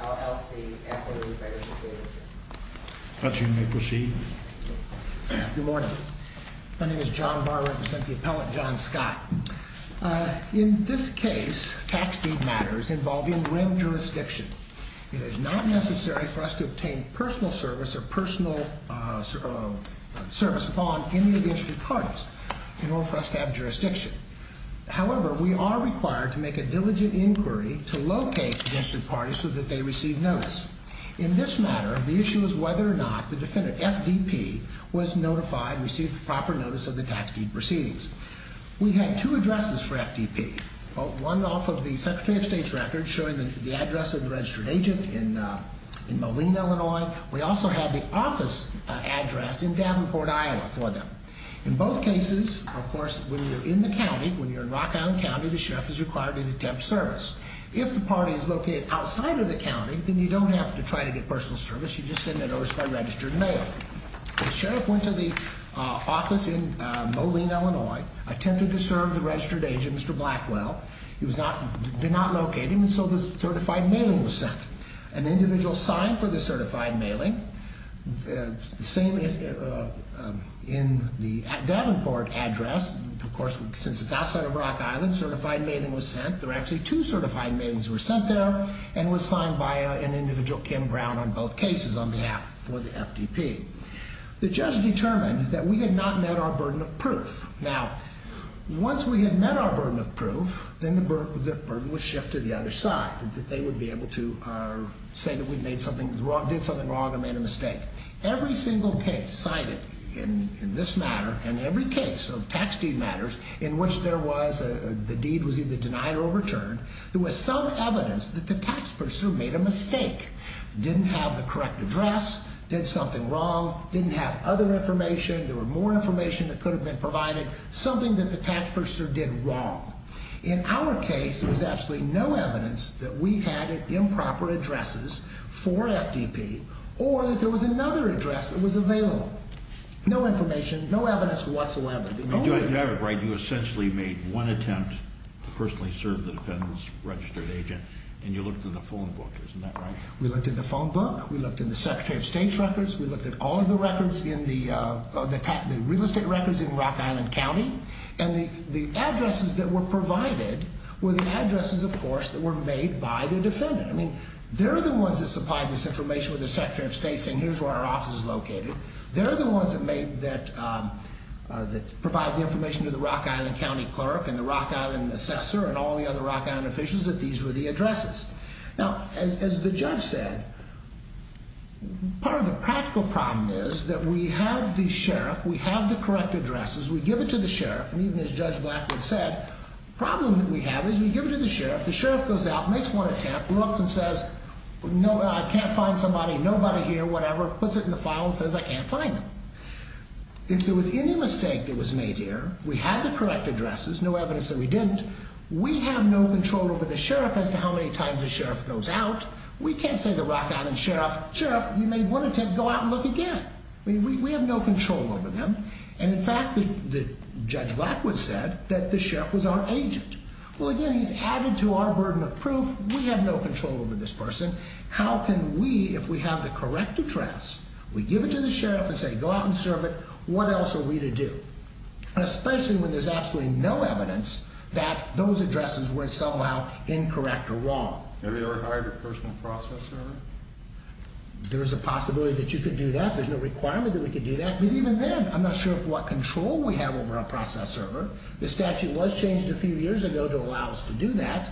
LLC and what are the benefits of data sharing. Perhaps you may proceed. Good morning. My name is John Barr, I represent the appellate John Scott. In this case, tax deed matters involve in-rib jurisdiction. It is not necessary for us to obtain personal service or personal service upon any of the district parties in order for us to have jurisdiction. However, we are required to make a diligent inquiry to locate the district parties so that they receive notice. In this matter, the issue is whether or not the defendant, FDP, was notified, received the proper notice of the tax deed proceedings. We had two addresses for FDP. One off of the Secretary of State's record showing the address of the registered agent in Moline, Illinois. We also had the office address in Davenport, Iowa for them. In both cases, of course, when you're in the county, when you're in Rock Island County, the sheriff is required to attempt service. If the party is located outside of the county, then you don't have to try to get personal service, you just send a notice by registered mail. The sheriff went to the office in Moline, Illinois, attempted to serve the registered agent. He did not locate him, and so the certified mailing was sent. An individual signed for the certified mailing. The same in the Davenport address. Of course, since it's outside of Rock Island, certified mailing was sent. There were actually two certified mailings were sent there and were signed by an individual, Kim Brown, on both cases on behalf for the FDP. The judge determined that we had not met our burden of proof. Now, once we had met our burden of proof, then the burden was shifted to the other side, that they would be able to say that we did something wrong and made a mistake. Every single case cited in this matter and every case of tax deed matters in which the deed was either denied or overturned, there was some evidence that the tax pursuer made a mistake. Didn't have the correct address, did something wrong, didn't have other information, there was more information that could have been provided, something that the tax pursuer did wrong. In our case, there was absolutely no evidence that we had improper addresses for FDP or that there was another address that was available. No information, no evidence whatsoever. You essentially made one attempt to personally serve the defendant's registered agent, and you looked in the phone book, isn't that right? We looked in the Secretary of State's records. We looked at all of the records in the real estate records in Rock Island County, and the addresses that were provided were the addresses, of course, that were made by the defendant. I mean, they're the ones that supplied this information with the Secretary of State saying here's where our office is located. They're the ones that provided the information to the Rock Island County clerk and the Rock Island assessor and all the other Rock Island officials that these were the addresses. Now, as the judge said, part of the practical problem is that we have the sheriff, we have the correct addresses, we give it to the sheriff, and even as Judge Blackwood said, the problem that we have is we give it to the sheriff, the sheriff goes out, makes one attempt, looks and says, no, I can't find somebody, nobody here, whatever, puts it in the file and says I can't find them. If there was any mistake that was made here, we had the correct addresses, no evidence that we didn't, we have no control over the sheriff as to how many times the sheriff goes out. We can't say to the Rock Island sheriff, sheriff, you made one attempt, go out and look again. We have no control over them, and in fact, Judge Blackwood said that the sheriff was our agent. Well, again, he's added to our burden of proof. We have no control over this person. How can we, if we have the correct address, we give it to the sheriff and say go out and serve it, what else are we to do? Especially when there's absolutely no evidence that those addresses were somehow incorrect or wrong. Have you ever hired a personal process server? There is a possibility that you could do that. There's no requirement that we could do that. But even then, I'm not sure what control we have over our process server. The statute was changed a few years ago to allow us to do that.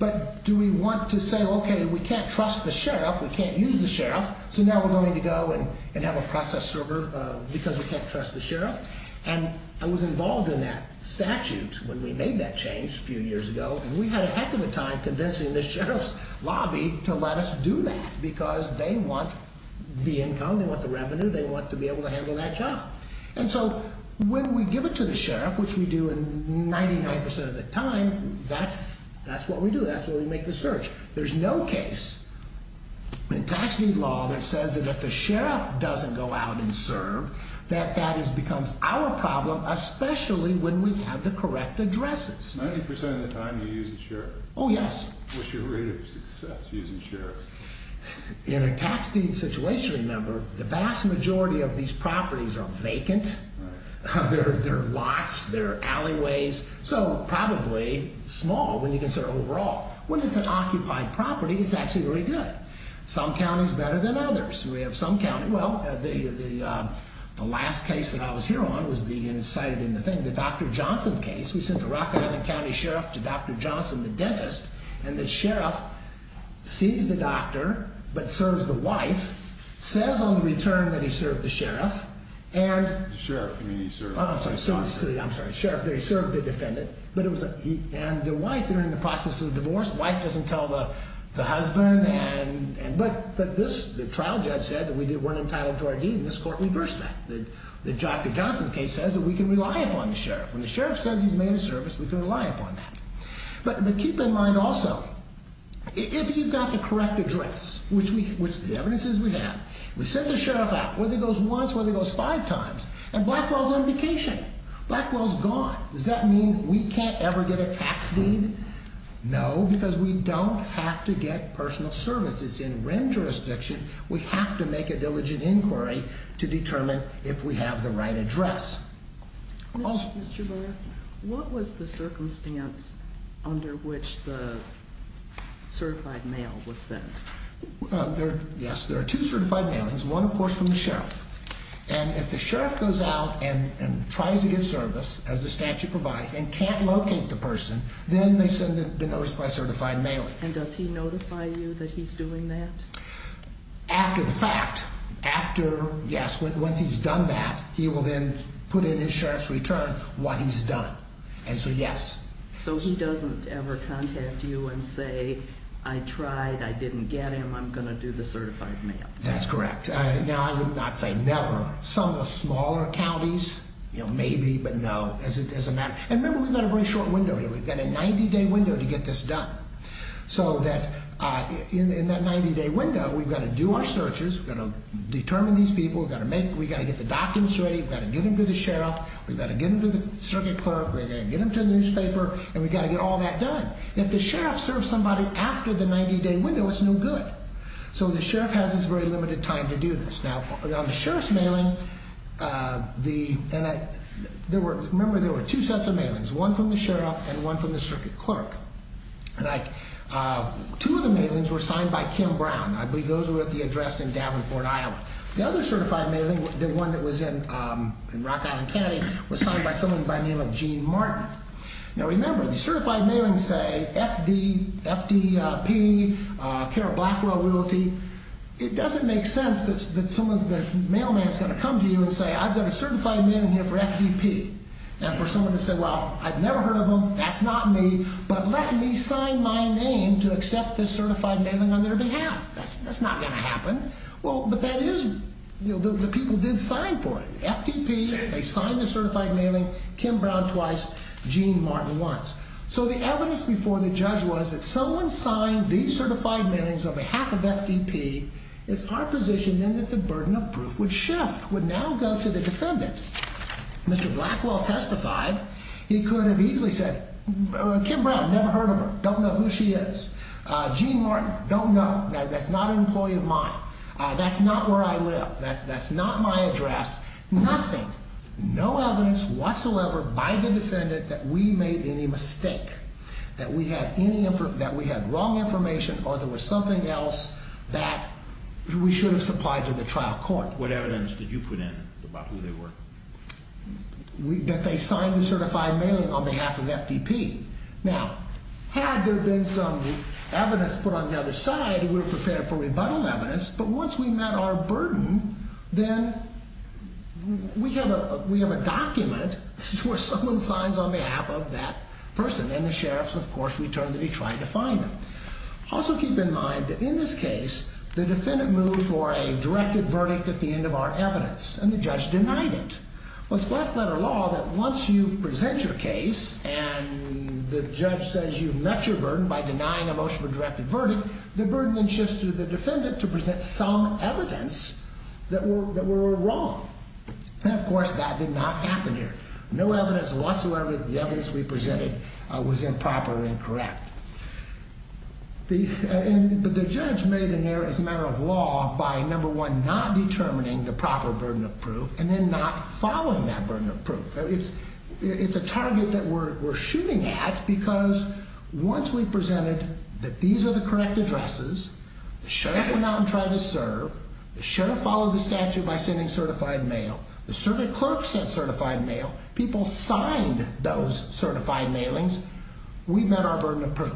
But do we want to say, OK, we can't trust the sheriff, we can't use the sheriff, so now we're going to go and have a process server because we can't trust the sheriff? And I was involved in that statute when we made that change a few years ago, and we had a heck of a time convincing the sheriff's lobby to let us do that because they want the income, they want the revenue, they want to be able to handle that job. And so when we give it to the sheriff, which we do 99% of the time, that's what we do, that's where we make the search. There's no case in tax deed law that says that if the sheriff doesn't go out and serve, that that becomes our problem, especially when we have the correct addresses. 90% of the time you use the sheriff? Oh, yes. What's your rate of success using sheriffs? In a tax deed situation, remember, the vast majority of these properties are vacant. They're lots, they're alleyways, so probably small when you consider overall. When it's an occupied property, it's actually very good. Some counties better than others. We have some counties, well, the last case that I was here on was the, and it's cited in the thing, the Dr. Johnson case. We sent the Rock Island County Sheriff to Dr. Johnson, the dentist, and the sheriff sees the doctor but serves the wife, says on return that he served the sheriff, and Sheriff, you mean he served the defendant? I'm sorry, sheriff, that he served the defendant, and the wife, they're in the process of divorce, the wife doesn't tell the husband, but the trial judge said that we weren't entitled to our deed, and this court reversed that. The Dr. Johnson case says that we can rely upon the sheriff. When the sheriff says he's made a service, we can rely upon that. But keep in mind also, if you've got the correct address, which the evidence is we have, we sent the sheriff out, whether it goes once, whether it goes five times, and Blackwell's on vacation. Blackwell's gone. Does that mean we can't ever get a tax deed? No, because we don't have to get personal service. It's in rent jurisdiction. We have to make a diligent inquiry to determine if we have the right address. Mr. Brewer, what was the circumstance under which the certified mail was sent? Yes, there are two certified mailings, one, of course, from the sheriff. And if the sheriff goes out and tries to get service, as the statute provides, and can't locate the person, then they send the notice by certified mailing. And does he notify you that he's doing that? After the fact, after, yes, once he's done that, he will then put in his sheriff's return what he's done. And so, yes. So he doesn't ever contact you and say, I tried, I didn't get him, I'm going to do the certified mail. That's correct. Now, I would not say never. Some of the smaller counties, maybe, but no, as a matter. And remember, we've got a very short window here. We've got a 90-day window to get this done. So that in that 90-day window, we've got to do our searches. We've got to determine these people. We've got to get the documents ready. We've got to get them to the sheriff. We've got to get them to the circuit clerk. We've got to get them to the newspaper. And we've got to get all that done. If the sheriff serves somebody after the 90-day window, it's no good. So the sheriff has this very limited time to do this. Now, on the sheriff's mailing, there were, remember, there were two sets of mailings, one from the sheriff and one from the circuit clerk. Two of the mailings were signed by Kim Brown. I believe those were at the address in Davenport, Iowa. The other certified mailing, the one that was in Rock Island County, was signed by someone by the name of Gene Martin. Now, remember, the certified mailings say FD, FDP, Kara Blackwell Realty. It doesn't make sense that the mailman is going to come to you and say, I've got a certified mailing here for FDP. And for someone to say, well, I've never heard of them, that's not me, but let me sign my name to accept this certified mailing on their behalf. That's not going to happen. Well, but that is, you know, the people did sign for it. FDP, they signed the certified mailing, Kim Brown twice, Gene Martin once. So the evidence before the judge was that someone signed these certified mailings on behalf of FDP. It's our position then that the burden of proof would shift, would now go to the defendant. Mr. Blackwell testified. He could have easily said, Kim Brown, never heard of her, don't know who she is. Gene Martin, don't know. That's not an employee of mine. That's not where I live. That's not my address. Nothing, no evidence whatsoever by the defendant that we made any mistake, that we had wrong information or there was something else that we should have supplied to the trial court. What evidence did you put in about who they were? That they signed the certified mailing on behalf of FDP. Now, had there been some evidence put on the other side, we were prepared for rebuttal evidence. But once we met our burden, then we have a document where someone signs on behalf of that person. And the sheriff's, of course, returned that he tried to find them. Also keep in mind that in this case, the defendant moved for a directed verdict at the end of our evidence, and the judge denied it. It's black-letter law that once you present your case and the judge says you've met your burden by denying a motion for directed verdict, the burden then shifts to the defendant to present some evidence that we're wrong. And, of course, that did not happen here. No evidence whatsoever that the evidence we presented was improper or incorrect. But the judge made an error as a matter of law by, number one, not determining the proper burden of proof and then not following that burden of proof. It's a target that we're shooting at because once we presented that these are the correct addresses, the sheriff went out and tried to serve, the sheriff followed the statute by sending certified mail, the clerk sent certified mail, people signed those certified mailings, we met our burden of proof.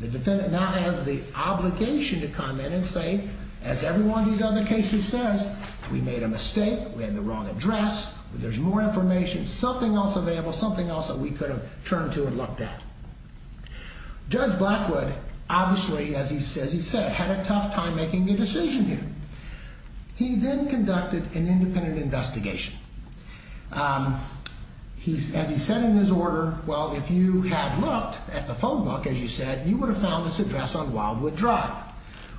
The defendant now has the obligation to come in and say, as every one of these other cases says, we made a mistake, we had the wrong address, there's more information, something else available, something else that we could have turned to and looked at. Judge Blackwood, obviously, as he says he said, had a tough time making a decision here. He then conducted an independent investigation. As he said in his order, well, if you had looked at the phone book, as you said, you would have found this address on Wildwood Drive.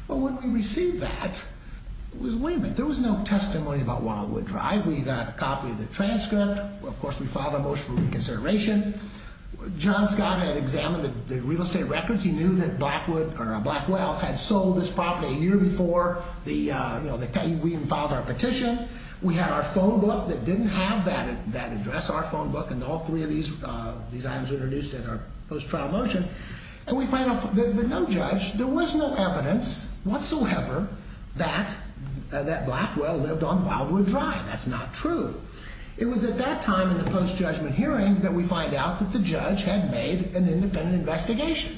Well, when we received that, there was no testimony about Wildwood Drive. We got a copy of the transcript. Of course, we filed a motion for reconsideration. John Scott had examined the real estate records. He knew that Blackwood or Blackwell had sold this property a year before we even filed our petition. We had our phone book that didn't have that address, our phone book, and all three of these items were introduced in our post-trial motion. And we find out that no judge, there was no evidence whatsoever that Blackwell lived on Wildwood Drive. That's not true. It was at that time in the post-judgment hearing that we find out that the judge had made an independent investigation,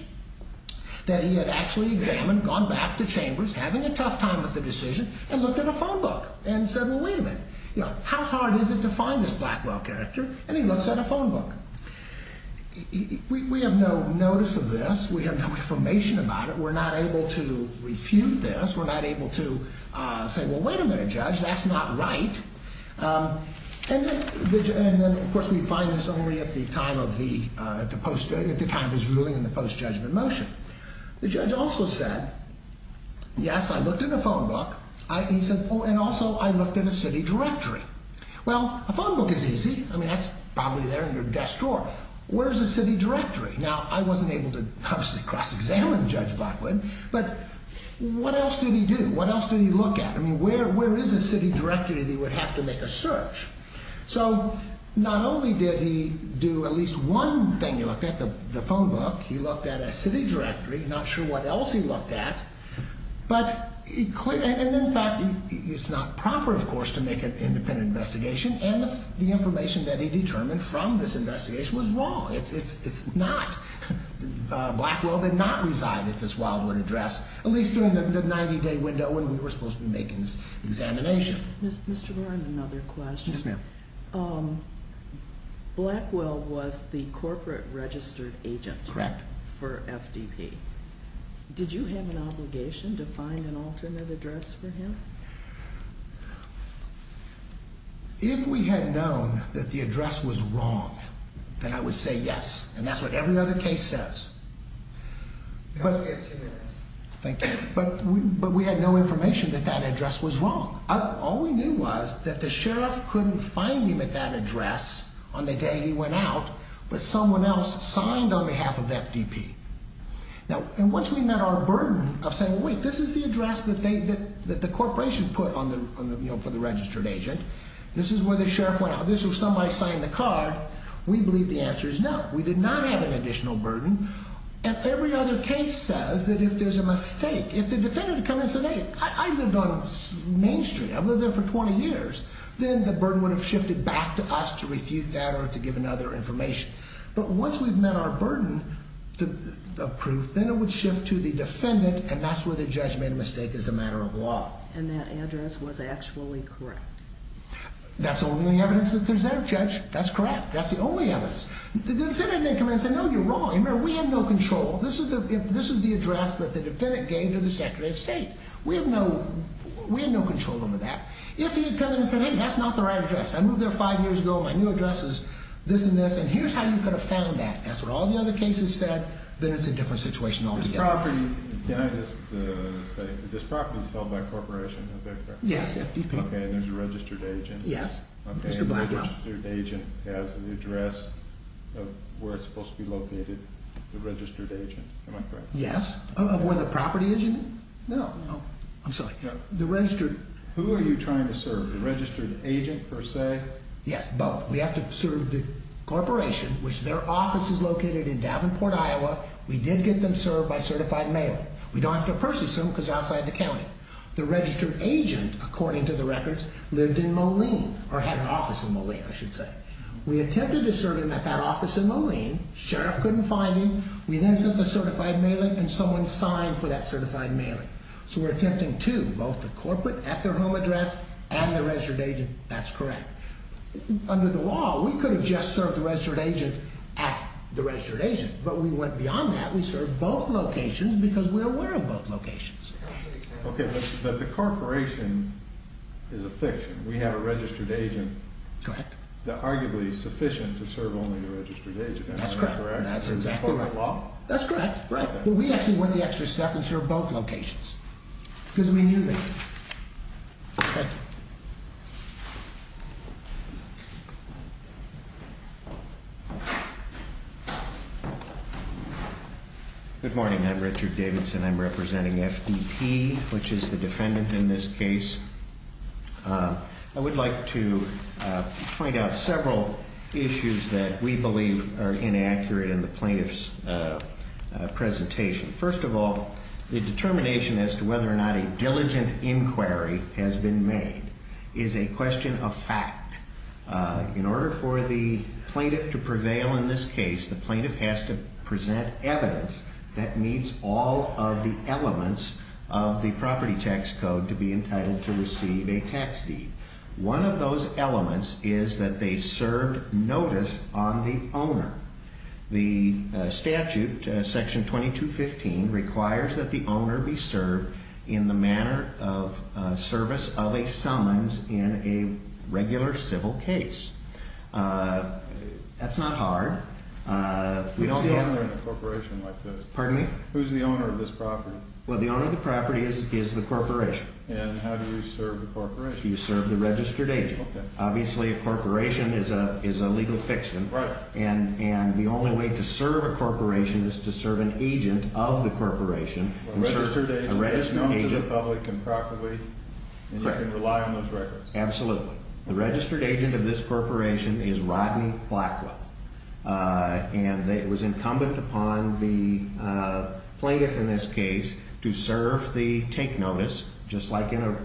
that he had actually examined, gone back to Chambers, having a tough time with the decision, and looked at a phone book and said, well, wait a minute, how hard is it to find this Blackwell character, and he looks at a phone book. We have no notice of this. We have no information about it. We're not able to refute this. We're not able to say, well, wait a minute, Judge, that's not right. And then, of course, we find this only at the time of his ruling in the post-judgment motion. The judge also said, yes, I looked at a phone book. He said, oh, and also I looked at a city directory. Well, a phone book is easy. I mean, that's probably there in your desk drawer. Where is a city directory? Now, I wasn't able to, obviously, cross-examine Judge Blackwood, but what else did he do? What else did he look at? I mean, where is a city directory that he would have to make a search? So not only did he do at least one thing he looked at, the phone book, he looked at a city directory, not sure what else he looked at, but in fact, it's not proper, of course, to make an independent investigation, and the information that he determined from this investigation was wrong. It's not. Blackwell did not reside at this Wildwood address, at least during the 90-day window when we were supposed to be making this examination. Mr. Warren, another question. Yes, ma'am. Blackwell was the corporate registered agent for FDP. Did you have an obligation to find an alternate address for him? If we had known that the address was wrong, then I would say yes, and that's what every other case says. You have two minutes. Thank you, but we had no information that that address was wrong. All we knew was that the sheriff couldn't find him at that address on the day he went out, but someone else signed on behalf of FDP. Now, once we met our burden of saying, wait, this is the address that the corporation put for the registered agent, this is where the sheriff went out, this is where somebody signed the card, we believe the answer is no. We did not have an additional burden, and every other case says that if there's a mistake, if the defendant commensurated, I lived on Main Street, I've lived there for 20 years, then the burden would have shifted back to us to refute that or to give another information. But once we've met our burden of proof, then it would shift to the defendant, and that's where the judge made a mistake as a matter of law. And that address was actually correct? That's the only evidence that there's ever, Judge. That's correct. That's the only evidence. The defendant didn't come in and say, no, you're wrong. Remember, we have no control. This is the address that the defendant gave to the Secretary of State. We have no control over that. If he had come in and said, hey, that's not the right address. I moved there five years ago, my new address is this and this, and here's how you could have found that. That's what all the other cases said. Then it's a different situation altogether. Can I just say, this property is held by a corporation, is that correct? Yes, FDP. Okay, and there's a registered agent. Yes. And the registered agent has the address of where it's supposed to be located, the registered agent, am I correct? Yes. Of where the property is? No. I'm sorry. Who are you trying to serve, the registered agent, per se? Yes, both. We have to serve the corporation, which their office is located in Davenport, Iowa. We did get them served by certified mailing. We don't have to personally serve them because they're outside the county. The registered agent, according to the records, lived in Moline, or had an office in Moline, I should say. We attempted to serve him at that office in Moline. Sheriff couldn't find him. We then sent the certified mailing, and someone signed for that certified mailing. So we're attempting to, both the corporate, at their home address, and the registered agent. That's correct. Under the law, we could have just served the registered agent at the registered agent, but we went beyond that. We served both locations because we're aware of both locations. Okay. But the corporation is a fiction. We have a registered agent. Correct. Arguably sufficient to serve only the registered agent. That's correct. That's exactly right. That's correct. But we actually went the extra step and served both locations because we knew that. Okay. Good morning. I'm Richard Davidson. I'm representing FDP, which is the defendant in this case. I would like to point out several issues that we believe are inaccurate in the plaintiff's presentation. First of all, the determination as to whether or not a diligent inquiry has been made is a question of fact. In order for the plaintiff to prevail in this case, the plaintiff has to present evidence that meets all of the elements of the property tax code to be entitled to receive a tax deed. One of those elements is that they served notice on the owner. The statute, Section 2215, requires that the owner be served in the manner of service of a summons in a regular civil case. That's not hard. Who's the owner of a corporation like this? Pardon me? Who's the owner of this property? Well, the owner of the property is the corporation. And how do you serve the corporation? You serve the registered agent. Okay. Obviously, a corporation is a legal fiction. Right. And the only way to serve a corporation is to serve an agent of the corporation. A registered agent is known to the public and properly, and you can rely on those records. Absolutely. The registered agent of this corporation is Rodney Blackwell. And it was incumbent upon the plaintiff in this case to serve the take notice, just like in a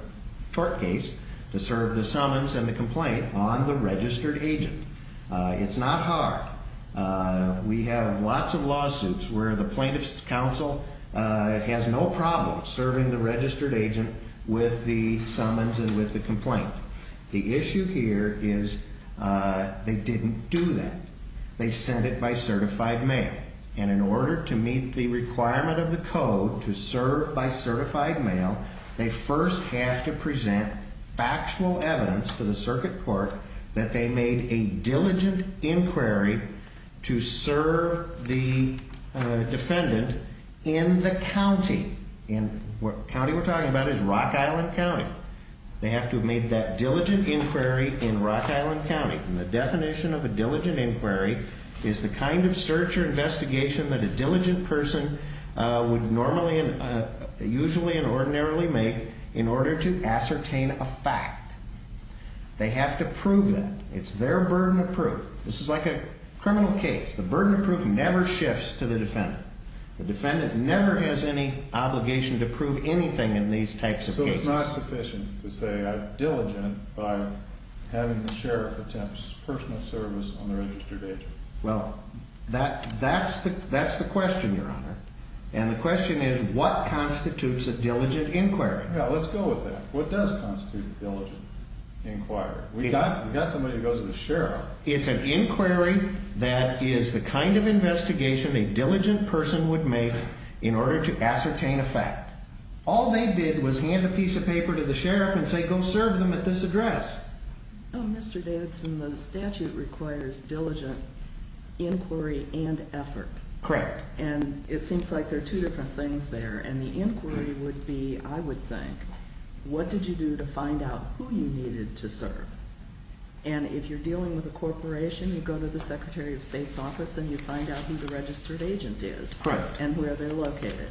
tort case, to serve the summons and the complaint on the registered agent. It's not hard. We have lots of lawsuits where the plaintiff's counsel has no problem serving the registered agent with the summons and with the complaint. The issue here is they didn't do that. They sent it by certified mail. And in order to meet the requirement of the code to serve by certified mail, they first have to present factual evidence to the circuit court that they made a diligent inquiry to serve the defendant in the county. And the county we're talking about is Rock Island County. They have to have made that diligent inquiry in Rock Island County. And the definition of a diligent inquiry is the kind of search or investigation that a diligent person would normally and usually and ordinarily make in order to ascertain a fact. They have to prove that. It's their burden of proof. This is like a criminal case. The burden of proof never shifts to the defendant. The defendant never has any obligation to prove anything in these types of cases. It's not sufficient to say I'm diligent by having the sheriff attempt personal service on the registered agent. Well, that's the question, Your Honor. And the question is, what constitutes a diligent inquiry? Yeah, let's go with that. What does constitute a diligent inquiry? We've got somebody who goes to the sheriff. It's an inquiry that is the kind of investigation a diligent person would make in order to ascertain a fact. All they did was hand a piece of paper to the sheriff and say, go serve them at this address. Mr. Davidson, the statute requires diligent inquiry and effort. Correct. And it seems like there are two different things there. And the inquiry would be, I would think, what did you do to find out who you needed to serve? And if you're dealing with a corporation, you go to the Secretary of State's office and you find out who the registered agent is and where they're located.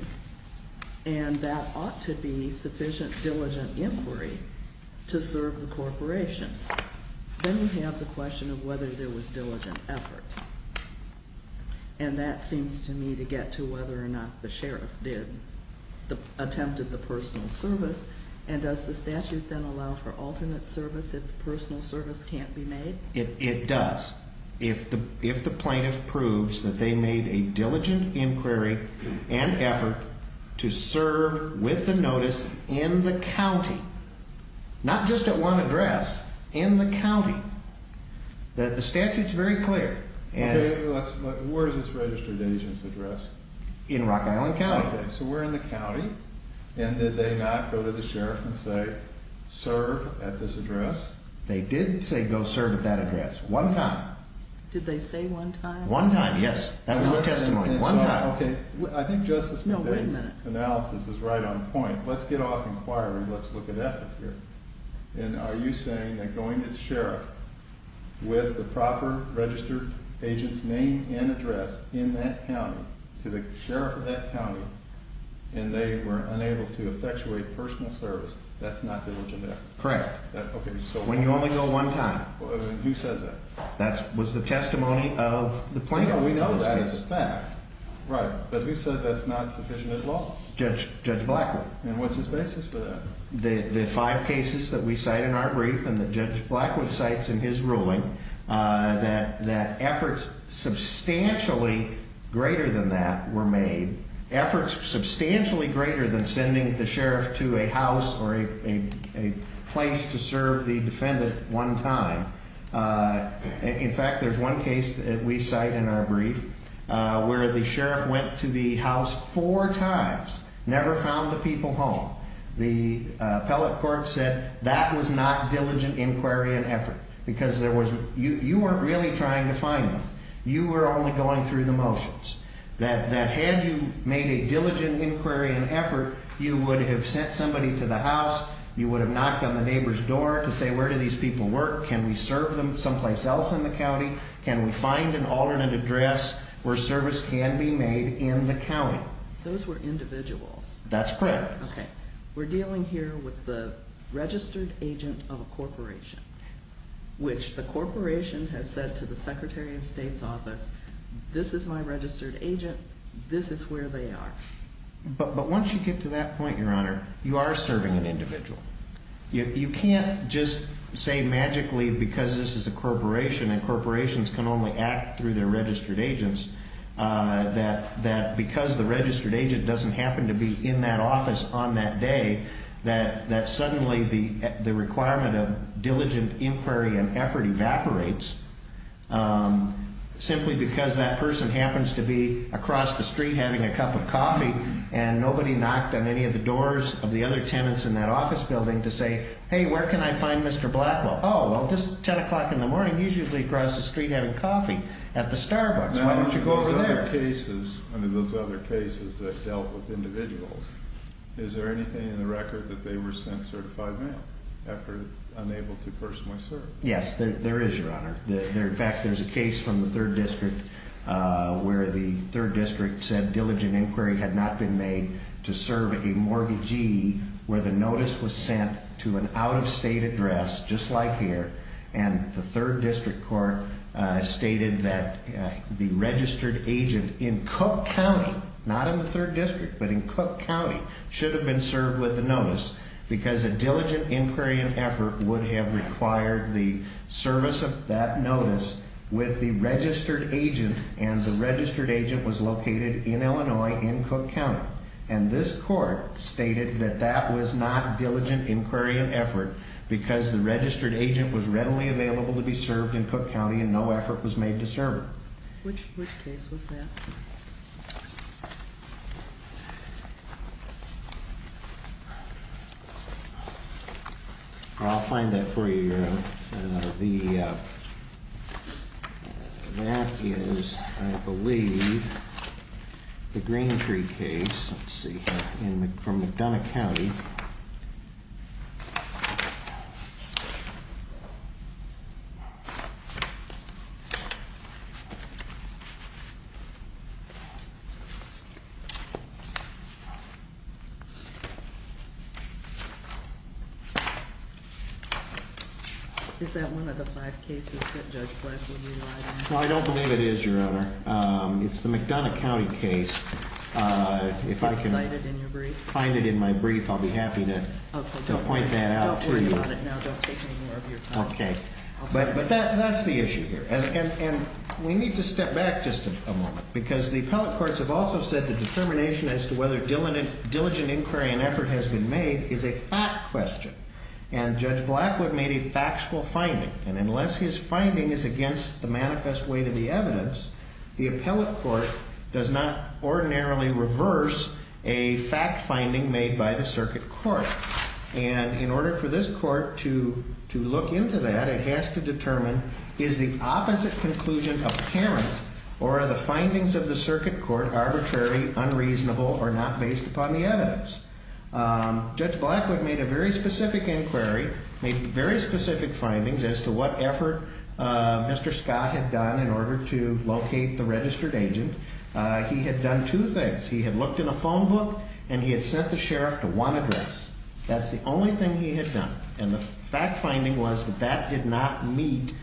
And that ought to be sufficient diligent inquiry to serve the corporation. Then you have the question of whether there was diligent effort. And that seems to me to get to whether or not the sheriff attempted the personal service. And does the statute then allow for alternate service if personal service can't be made? It does. If the plaintiff proves that they made a diligent inquiry and effort to serve with the notice in the county, not just at one address, in the county. The statute's very clear. Where is this registered agent's address? In Rock Island County. So we're in the county. And did they not go to the sheriff and say, serve at this address? They did say go serve at that address. One time. Did they say one time? One time, yes. That was the testimony. One time. Okay. I think Justice McVeigh's analysis is right on point. Let's get off inquiry. Let's look at effort here. And are you saying that going to the sheriff with the proper registered agent's name and address in that county, to the sheriff of that county, and they were unable to effectuate personal service, that's not diligent effort? Correct. When you only go one time. Who says that? That was the testimony of the plaintiff. We know that as a fact. Right. But who says that's not sufficient at law? Judge Blackwood. And what's his basis for that? The five cases that we cite in our brief and that Judge Blackwood cites in his ruling, that efforts substantially greater than that were made, efforts substantially greater than sending the sheriff to a house or a place to serve the defendant one time. In fact, there's one case that we cite in our brief where the sheriff went to the house four times, never found the people home. The appellate court said that was not diligent inquiry and effort because you weren't really trying to find them. You were only going through the motions. That had you made a diligent inquiry and effort, you would have sent somebody to the house, you would have knocked on the neighbor's door to say where do these people work, can we serve them someplace else in the county, can we find an alternate address where service can be made in the county? Those were individuals. That's correct. Okay. We're dealing here with the registered agent of a corporation, which the corporation has said to the Secretary of State's office, this is my registered agent, this is where they are. But once you get to that point, Your Honor, you are serving an individual. You can't just say magically because this is a corporation and corporations can only act through their registered agents, that because the registered agent doesn't happen to be in that office on that day, that suddenly the requirement of diligent inquiry and effort evaporates. Simply because that person happens to be across the street having a cup of coffee and nobody knocked on any of the doors of the other tenants in that office building to say, hey, where can I find Mr. Blackwell? Oh, well, this is 10 o'clock in the morning. He's usually across the street having coffee at the Starbucks. Why don't you go over there? Under those other cases that dealt with individuals, is there anything in the record that they were sent certified mail after unable to personally serve? Yes, there is, Your Honor. In fact, there's a case from the 3rd District where the 3rd District said diligent inquiry had not been made to serve a mortgagee where the notice was sent to an out-of-state address, just like here. And the 3rd District Court stated that the registered agent in Cook County, not in the 3rd District, but in Cook County, should have been served with the notice because a diligent inquiry and effort would have required the service of that notice with the registered agent. And the registered agent was located in Illinois, in Cook County. And this court stated that that was not diligent inquiry and effort because the registered agent was readily available to be served in Cook County and no effort was made to serve him. Which case was that? I'll find that for you, Your Honor. That is, I believe, the Greentree case. Let's see. From McDonough County. Is that one of the five cases that Judge Blackwood utilized? Well, I don't believe it is, Your Honor. It's the McDonough County case. If I can find it in my brief, I'll be happy to point that out to you. Don't worry about it now. Don't take any more of your time. Okay. But that's the issue here. And we need to step back just a moment because the appellate courts have also said the determination as to whether diligent inquiry and effort has been made is a fact question. And Judge Blackwood made a factual finding. And unless his finding is against the manifest way to the evidence, the appellate court does not ordinarily reverse a fact finding made by the circuit court. And in order for this court to look into that, it has to determine is the opposite conclusion apparent or are the findings of the circuit court arbitrary, unreasonable, or not based upon the evidence? Judge Blackwood made a very specific inquiry, made very specific findings as to what effort Mr. Scott had done in order to locate the registered agent. He had done two things. He had looked in a phone book and he had sent the sheriff to one address. That's the only thing he had done. And the fact finding was that that did not meet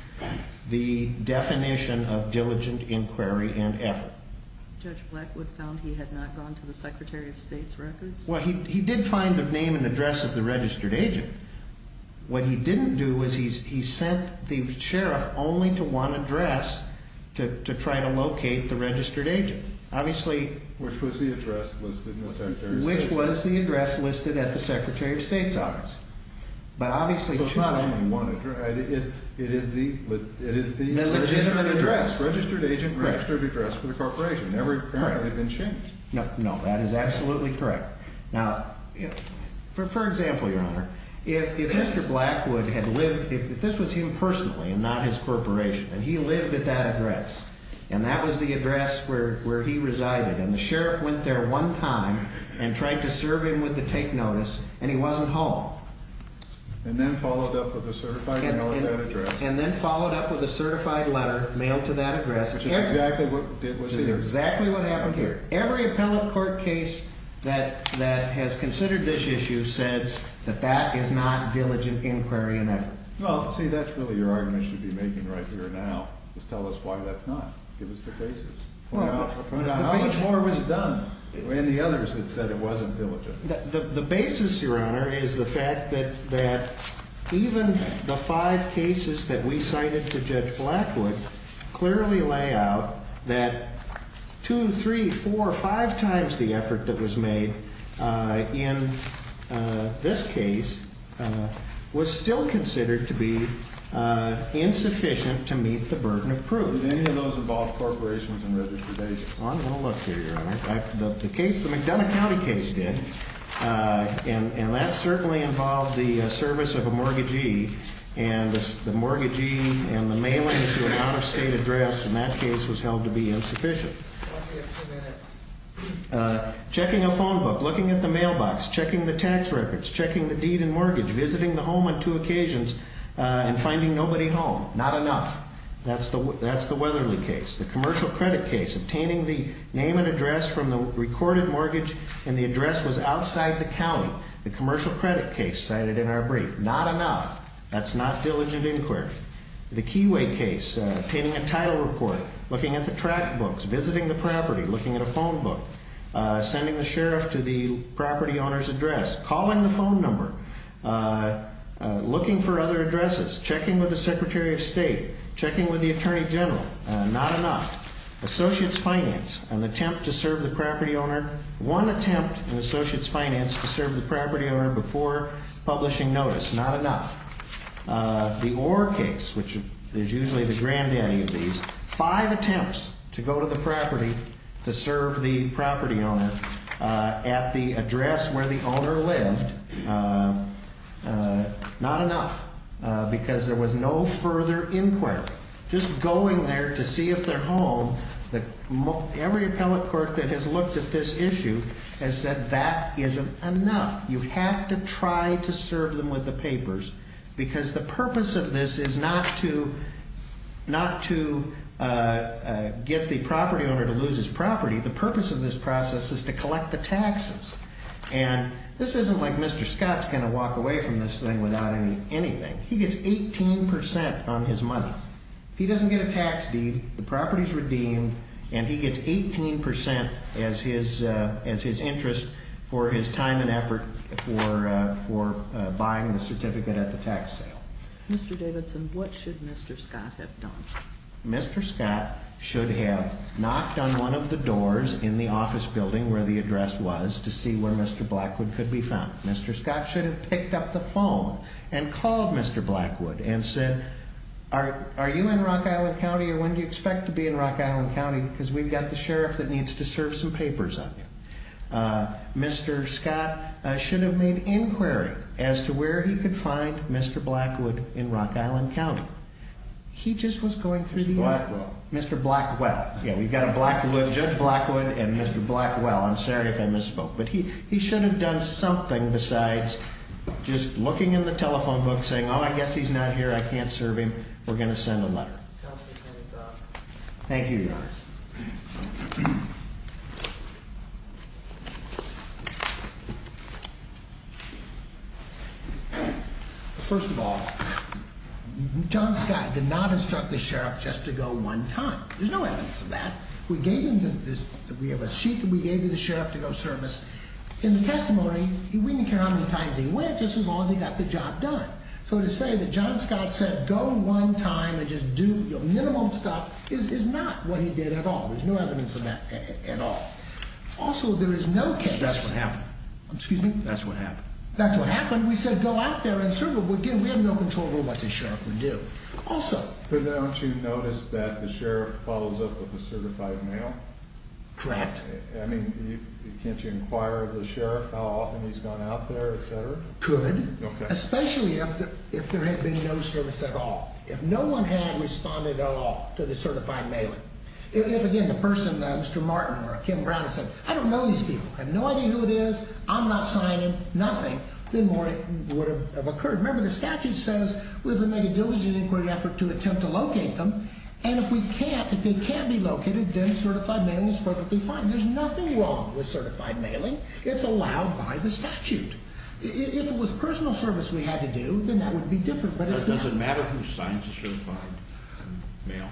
the definition of diligent inquiry and effort. Judge Blackwood found he had not gone to the Secretary of State's records? Well, he did find the name and address of the registered agent. What he didn't do was he sent the sheriff only to one address to try to locate the registered agent. Which was the address listed in the Secretary of State's records? Which was the address listed at the Secretary of State's office. So it's not only one address, it is the... The legitimate address. Registered agent registered address for the corporation. Correct. Never apparently been changed. No, that is absolutely correct. Now, for example, Your Honor, if Mr. Blackwood had lived... If this was him personally and not his corporation and he lived at that address. And that was the address where he resided. And the sheriff went there one time and tried to serve him with the take notice and he wasn't home. And then followed up with a certified mail to that address. And then followed up with a certified letter mailed to that address. Which is exactly what happened here. Every appellate court case that has considered this issue says that that is not diligent inquiry and effort. Well, see, that's really your argument you should be making right here now is tell us why that's not. Give us the basis. How much more was done? And the others that said it wasn't diligent. The basis, Your Honor, is the fact that even the five cases that we cited to Judge Blackwood clearly lay out that two, three, four, five times the effort that was made in this case was still considered to be insufficient to meet the burden of proof. Did any of those involve corporations and registration? Well, I'm going to look here, Your Honor. The case, the McDonough County case did. And that certainly involved the service of a mortgagee. And the mortgagee and the mailing to an out-of-state address in that case was held to be insufficient. Checking a phone book, looking at the mailbox, checking the tax records, checking the deed and mortgage, visiting the home on two occasions and finding nobody home. Not enough. That's the Weatherly case. The commercial credit case, obtaining the name and address from the recorded mortgage and the address was outside the county. The commercial credit case cited in our brief. Not enough. That's not diligent inquiry. The Keyway case, obtaining a title report, looking at the track books, visiting the property, looking at a phone book, sending the sheriff to the property owner's address, calling the phone number, looking for other addresses, checking with the Secretary of State, checking with the Attorney General. Not enough. Associates Finance, an attempt to serve the property owner. Before publishing notice. Not enough. The Orr case, which is usually the granddaddy of these. Five attempts to go to the property to serve the property owner at the address where the owner lived. Not enough. Because there was no further inquiry. Just going there to see if they're home. Every appellate court that has looked at this issue has said that isn't enough. You have to try to serve them with the papers. Because the purpose of this is not to get the property owner to lose his property. The purpose of this process is to collect the taxes. And this isn't like Mr. Scott's going to walk away from this thing without anything. He gets 18% on his money. He doesn't get a tax deed. The property is redeemed. And he gets 18% as his interest for his time and effort for buying the certificate at the tax sale. Mr. Davidson, what should Mr. Scott have done? Mr. Scott should have knocked on one of the doors in the office building where the address was to see where Mr. Blackwood could be found. Mr. Scott should have picked up the phone and called Mr. Blackwood and said, Are you in Rock Island County or when do you expect to be in Rock Island County? Because we've got the sheriff that needs to serve some papers on you. Mr. Scott should have made inquiry as to where he could find Mr. Blackwood in Rock Island County. He just was going through the envelope. Mr. Blackwell. Mr. Blackwell. Yeah, we've got a Blackwood, Judge Blackwood, and Mr. Blackwell. I'm sorry if I misspoke. But he should have done something besides just looking in the telephone book saying, Oh, I guess he's not here. I can't serve him. We're going to send a letter. Thank you, Your Honor. First of all, John Scott did not instruct the sheriff just to go one time. There's no evidence of that. We have a sheet that we gave you the sheriff to go service. In the testimony, we didn't care how many times he went, just as long as he got the job done. So to say that John Scott said go one time and just do minimum stuff is not what he did at all. There's no evidence of that at all. Also, there is no case. That's what happened. Excuse me? That's what happened. That's what happened. We said go out there and serve him. We have no control over what the sheriff would do. But don't you notice that the sheriff follows up with a certified mail? Correct. I mean, can't you inquire of the sheriff how often he's gone out there, et cetera? Could. Especially if there had been no service at all. If no one had responded at all to the certified mailing. If, again, the person, Mr. Martin or Kim Brown had said, I don't know these people. I have no idea who it is. I'm not signing. Nothing. Then more would have occurred. Remember, the statute says we have to make a diligent inquiry effort to attempt to locate them. And if we can't, if they can't be located, then certified mailing is perfectly fine. There's nothing wrong with certified mailing. It's allowed by the statute. If it was personal service we had to do, then that would be different. But it doesn't matter who signs a certified mail.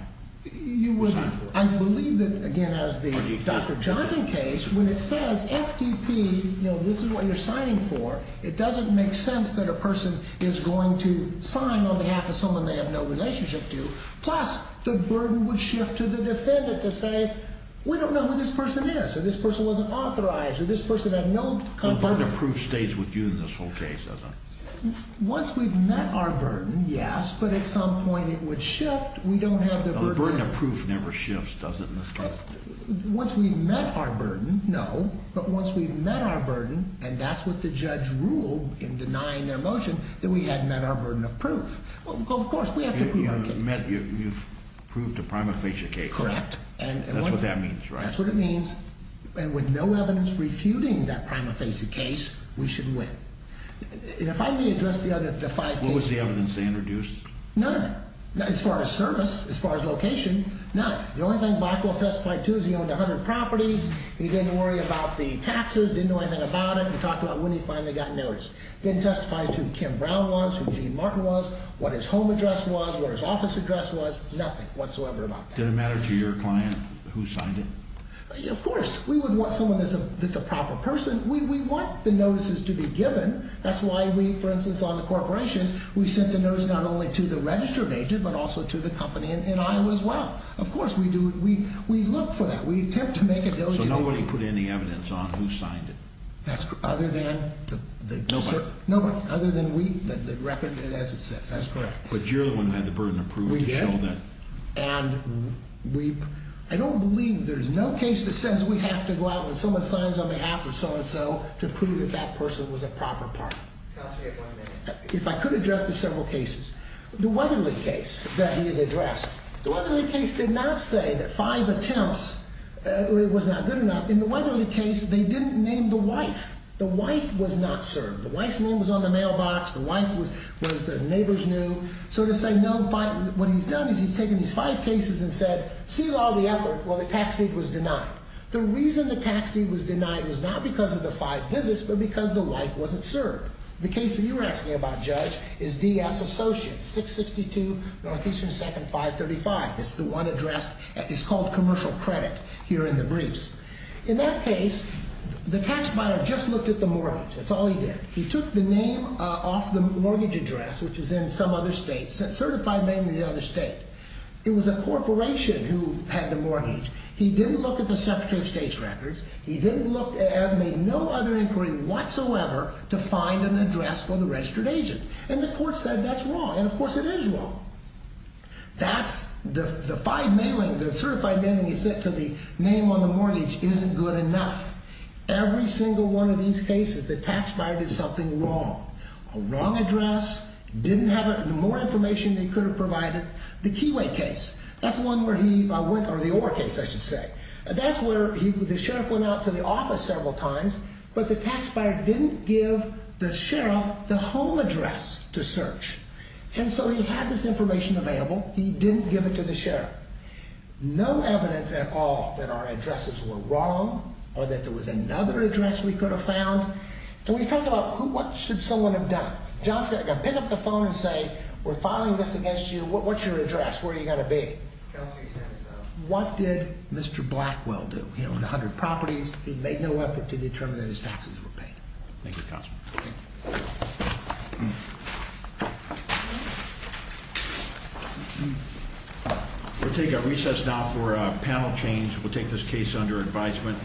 You would. I believe that, again, as the Dr. Johnson case, when it says FTP, you know, this is what you're signing for, it doesn't make sense that a person is going to sign on behalf of someone they have no relationship to. Plus, the burden would shift to the defendant to say, we don't know who this person is. Or this person wasn't authorized. Or this person had no contact. The burden of proof stays with you in this whole case, doesn't it? Once we've met our burden, yes. But at some point it would shift. We don't have the burden. The burden of proof never shifts, does it, in this case? Once we've met our burden, no. But once we've met our burden, and that's what the judge ruled in denying their motion, that we had met our burden of proof. Of course, we have to prove our case. You've proved a prima facie case. Correct. That's what that means, right? That's what it means. And with no evidence refuting that prima facie case, we should win. If I may address the other five cases. What was the evidence they introduced? None. As far as service, as far as location, none. The only thing Blackwell testified to is he owned 100 properties. He didn't worry about the taxes, didn't know anything about it. He talked about when he finally got noticed. Didn't testify to who Kim Brown was, who Gene Martin was, what his home address was, what his office address was. Nothing whatsoever about that. Did it matter to your client who signed it? Of course. We would want someone that's a proper person. We want the notices to be given. That's why we, for instance, on the corporation, we sent the notice not only to the registered agent but also to the company in Iowa as well. Of course, we do. We look for that. We attempt to make a diligent. So nobody put any evidence on who signed it? That's correct. Other than the... Nobody. Nobody. Other than we, the record as it says. That's correct. But you're the one who had the burden of proving that. We did. And we... I don't believe there's no case that says we have to go out when someone signs on behalf of so-and-so to prove that that person was a proper party. Counsel, you have one minute. If I could address the several cases. The Weatherly case that he had addressed. The Weatherly case did not say that five attempts was not good enough. In the Weatherly case, they didn't name the wife. The wife was not served. The wife's name was on the mailbox. The wife was the neighbor's new. So to say no, what he's done is he's taken these five cases and said, seal all the effort. Well, the tax deed was denied. The reason the tax deed was denied was not because of the five visits but because the wife wasn't served. The case you're asking about, Judge, is D.S. Associates, 662 Northeastern 2nd 535. It's the one addressed. It's called commercial credit here in the briefs. In that case, the tax buyer just looked at the mortgage. That's all he did. He took the name off the mortgage address, which was in some other state, certified mainly the other state. It was a corporation who had the mortgage. He didn't look at the Secretary of State's records. He didn't look at, made no other inquiry whatsoever to find an address for the registered agent. And the court said that's wrong. And, of course, it is wrong. That's the five mailing, the certified mailing he sent to the name on the mortgage isn't good enough. Every single one of these cases, the tax buyer did something wrong. A wrong address, didn't have more information than he could have provided. The Keyway case, that's the one where he went, or the Orr case, I should say. That's where the sheriff went out to the office several times, but the tax buyer didn't give the sheriff the home address to search. And so he had this information available. He didn't give it to the sheriff. No evidence at all that our addresses were wrong or that there was another address we could have found. Can we talk about what should someone have done? John's got to pick up the phone and say, we're filing this against you. What's your address? Where are you going to be? What did Mr. Blackwell do? He owned 100 properties. He made no effort to determine that his taxes were paid. Thank you, Counselor. We'll take a recess now for a panel change. We'll take this case under advisement.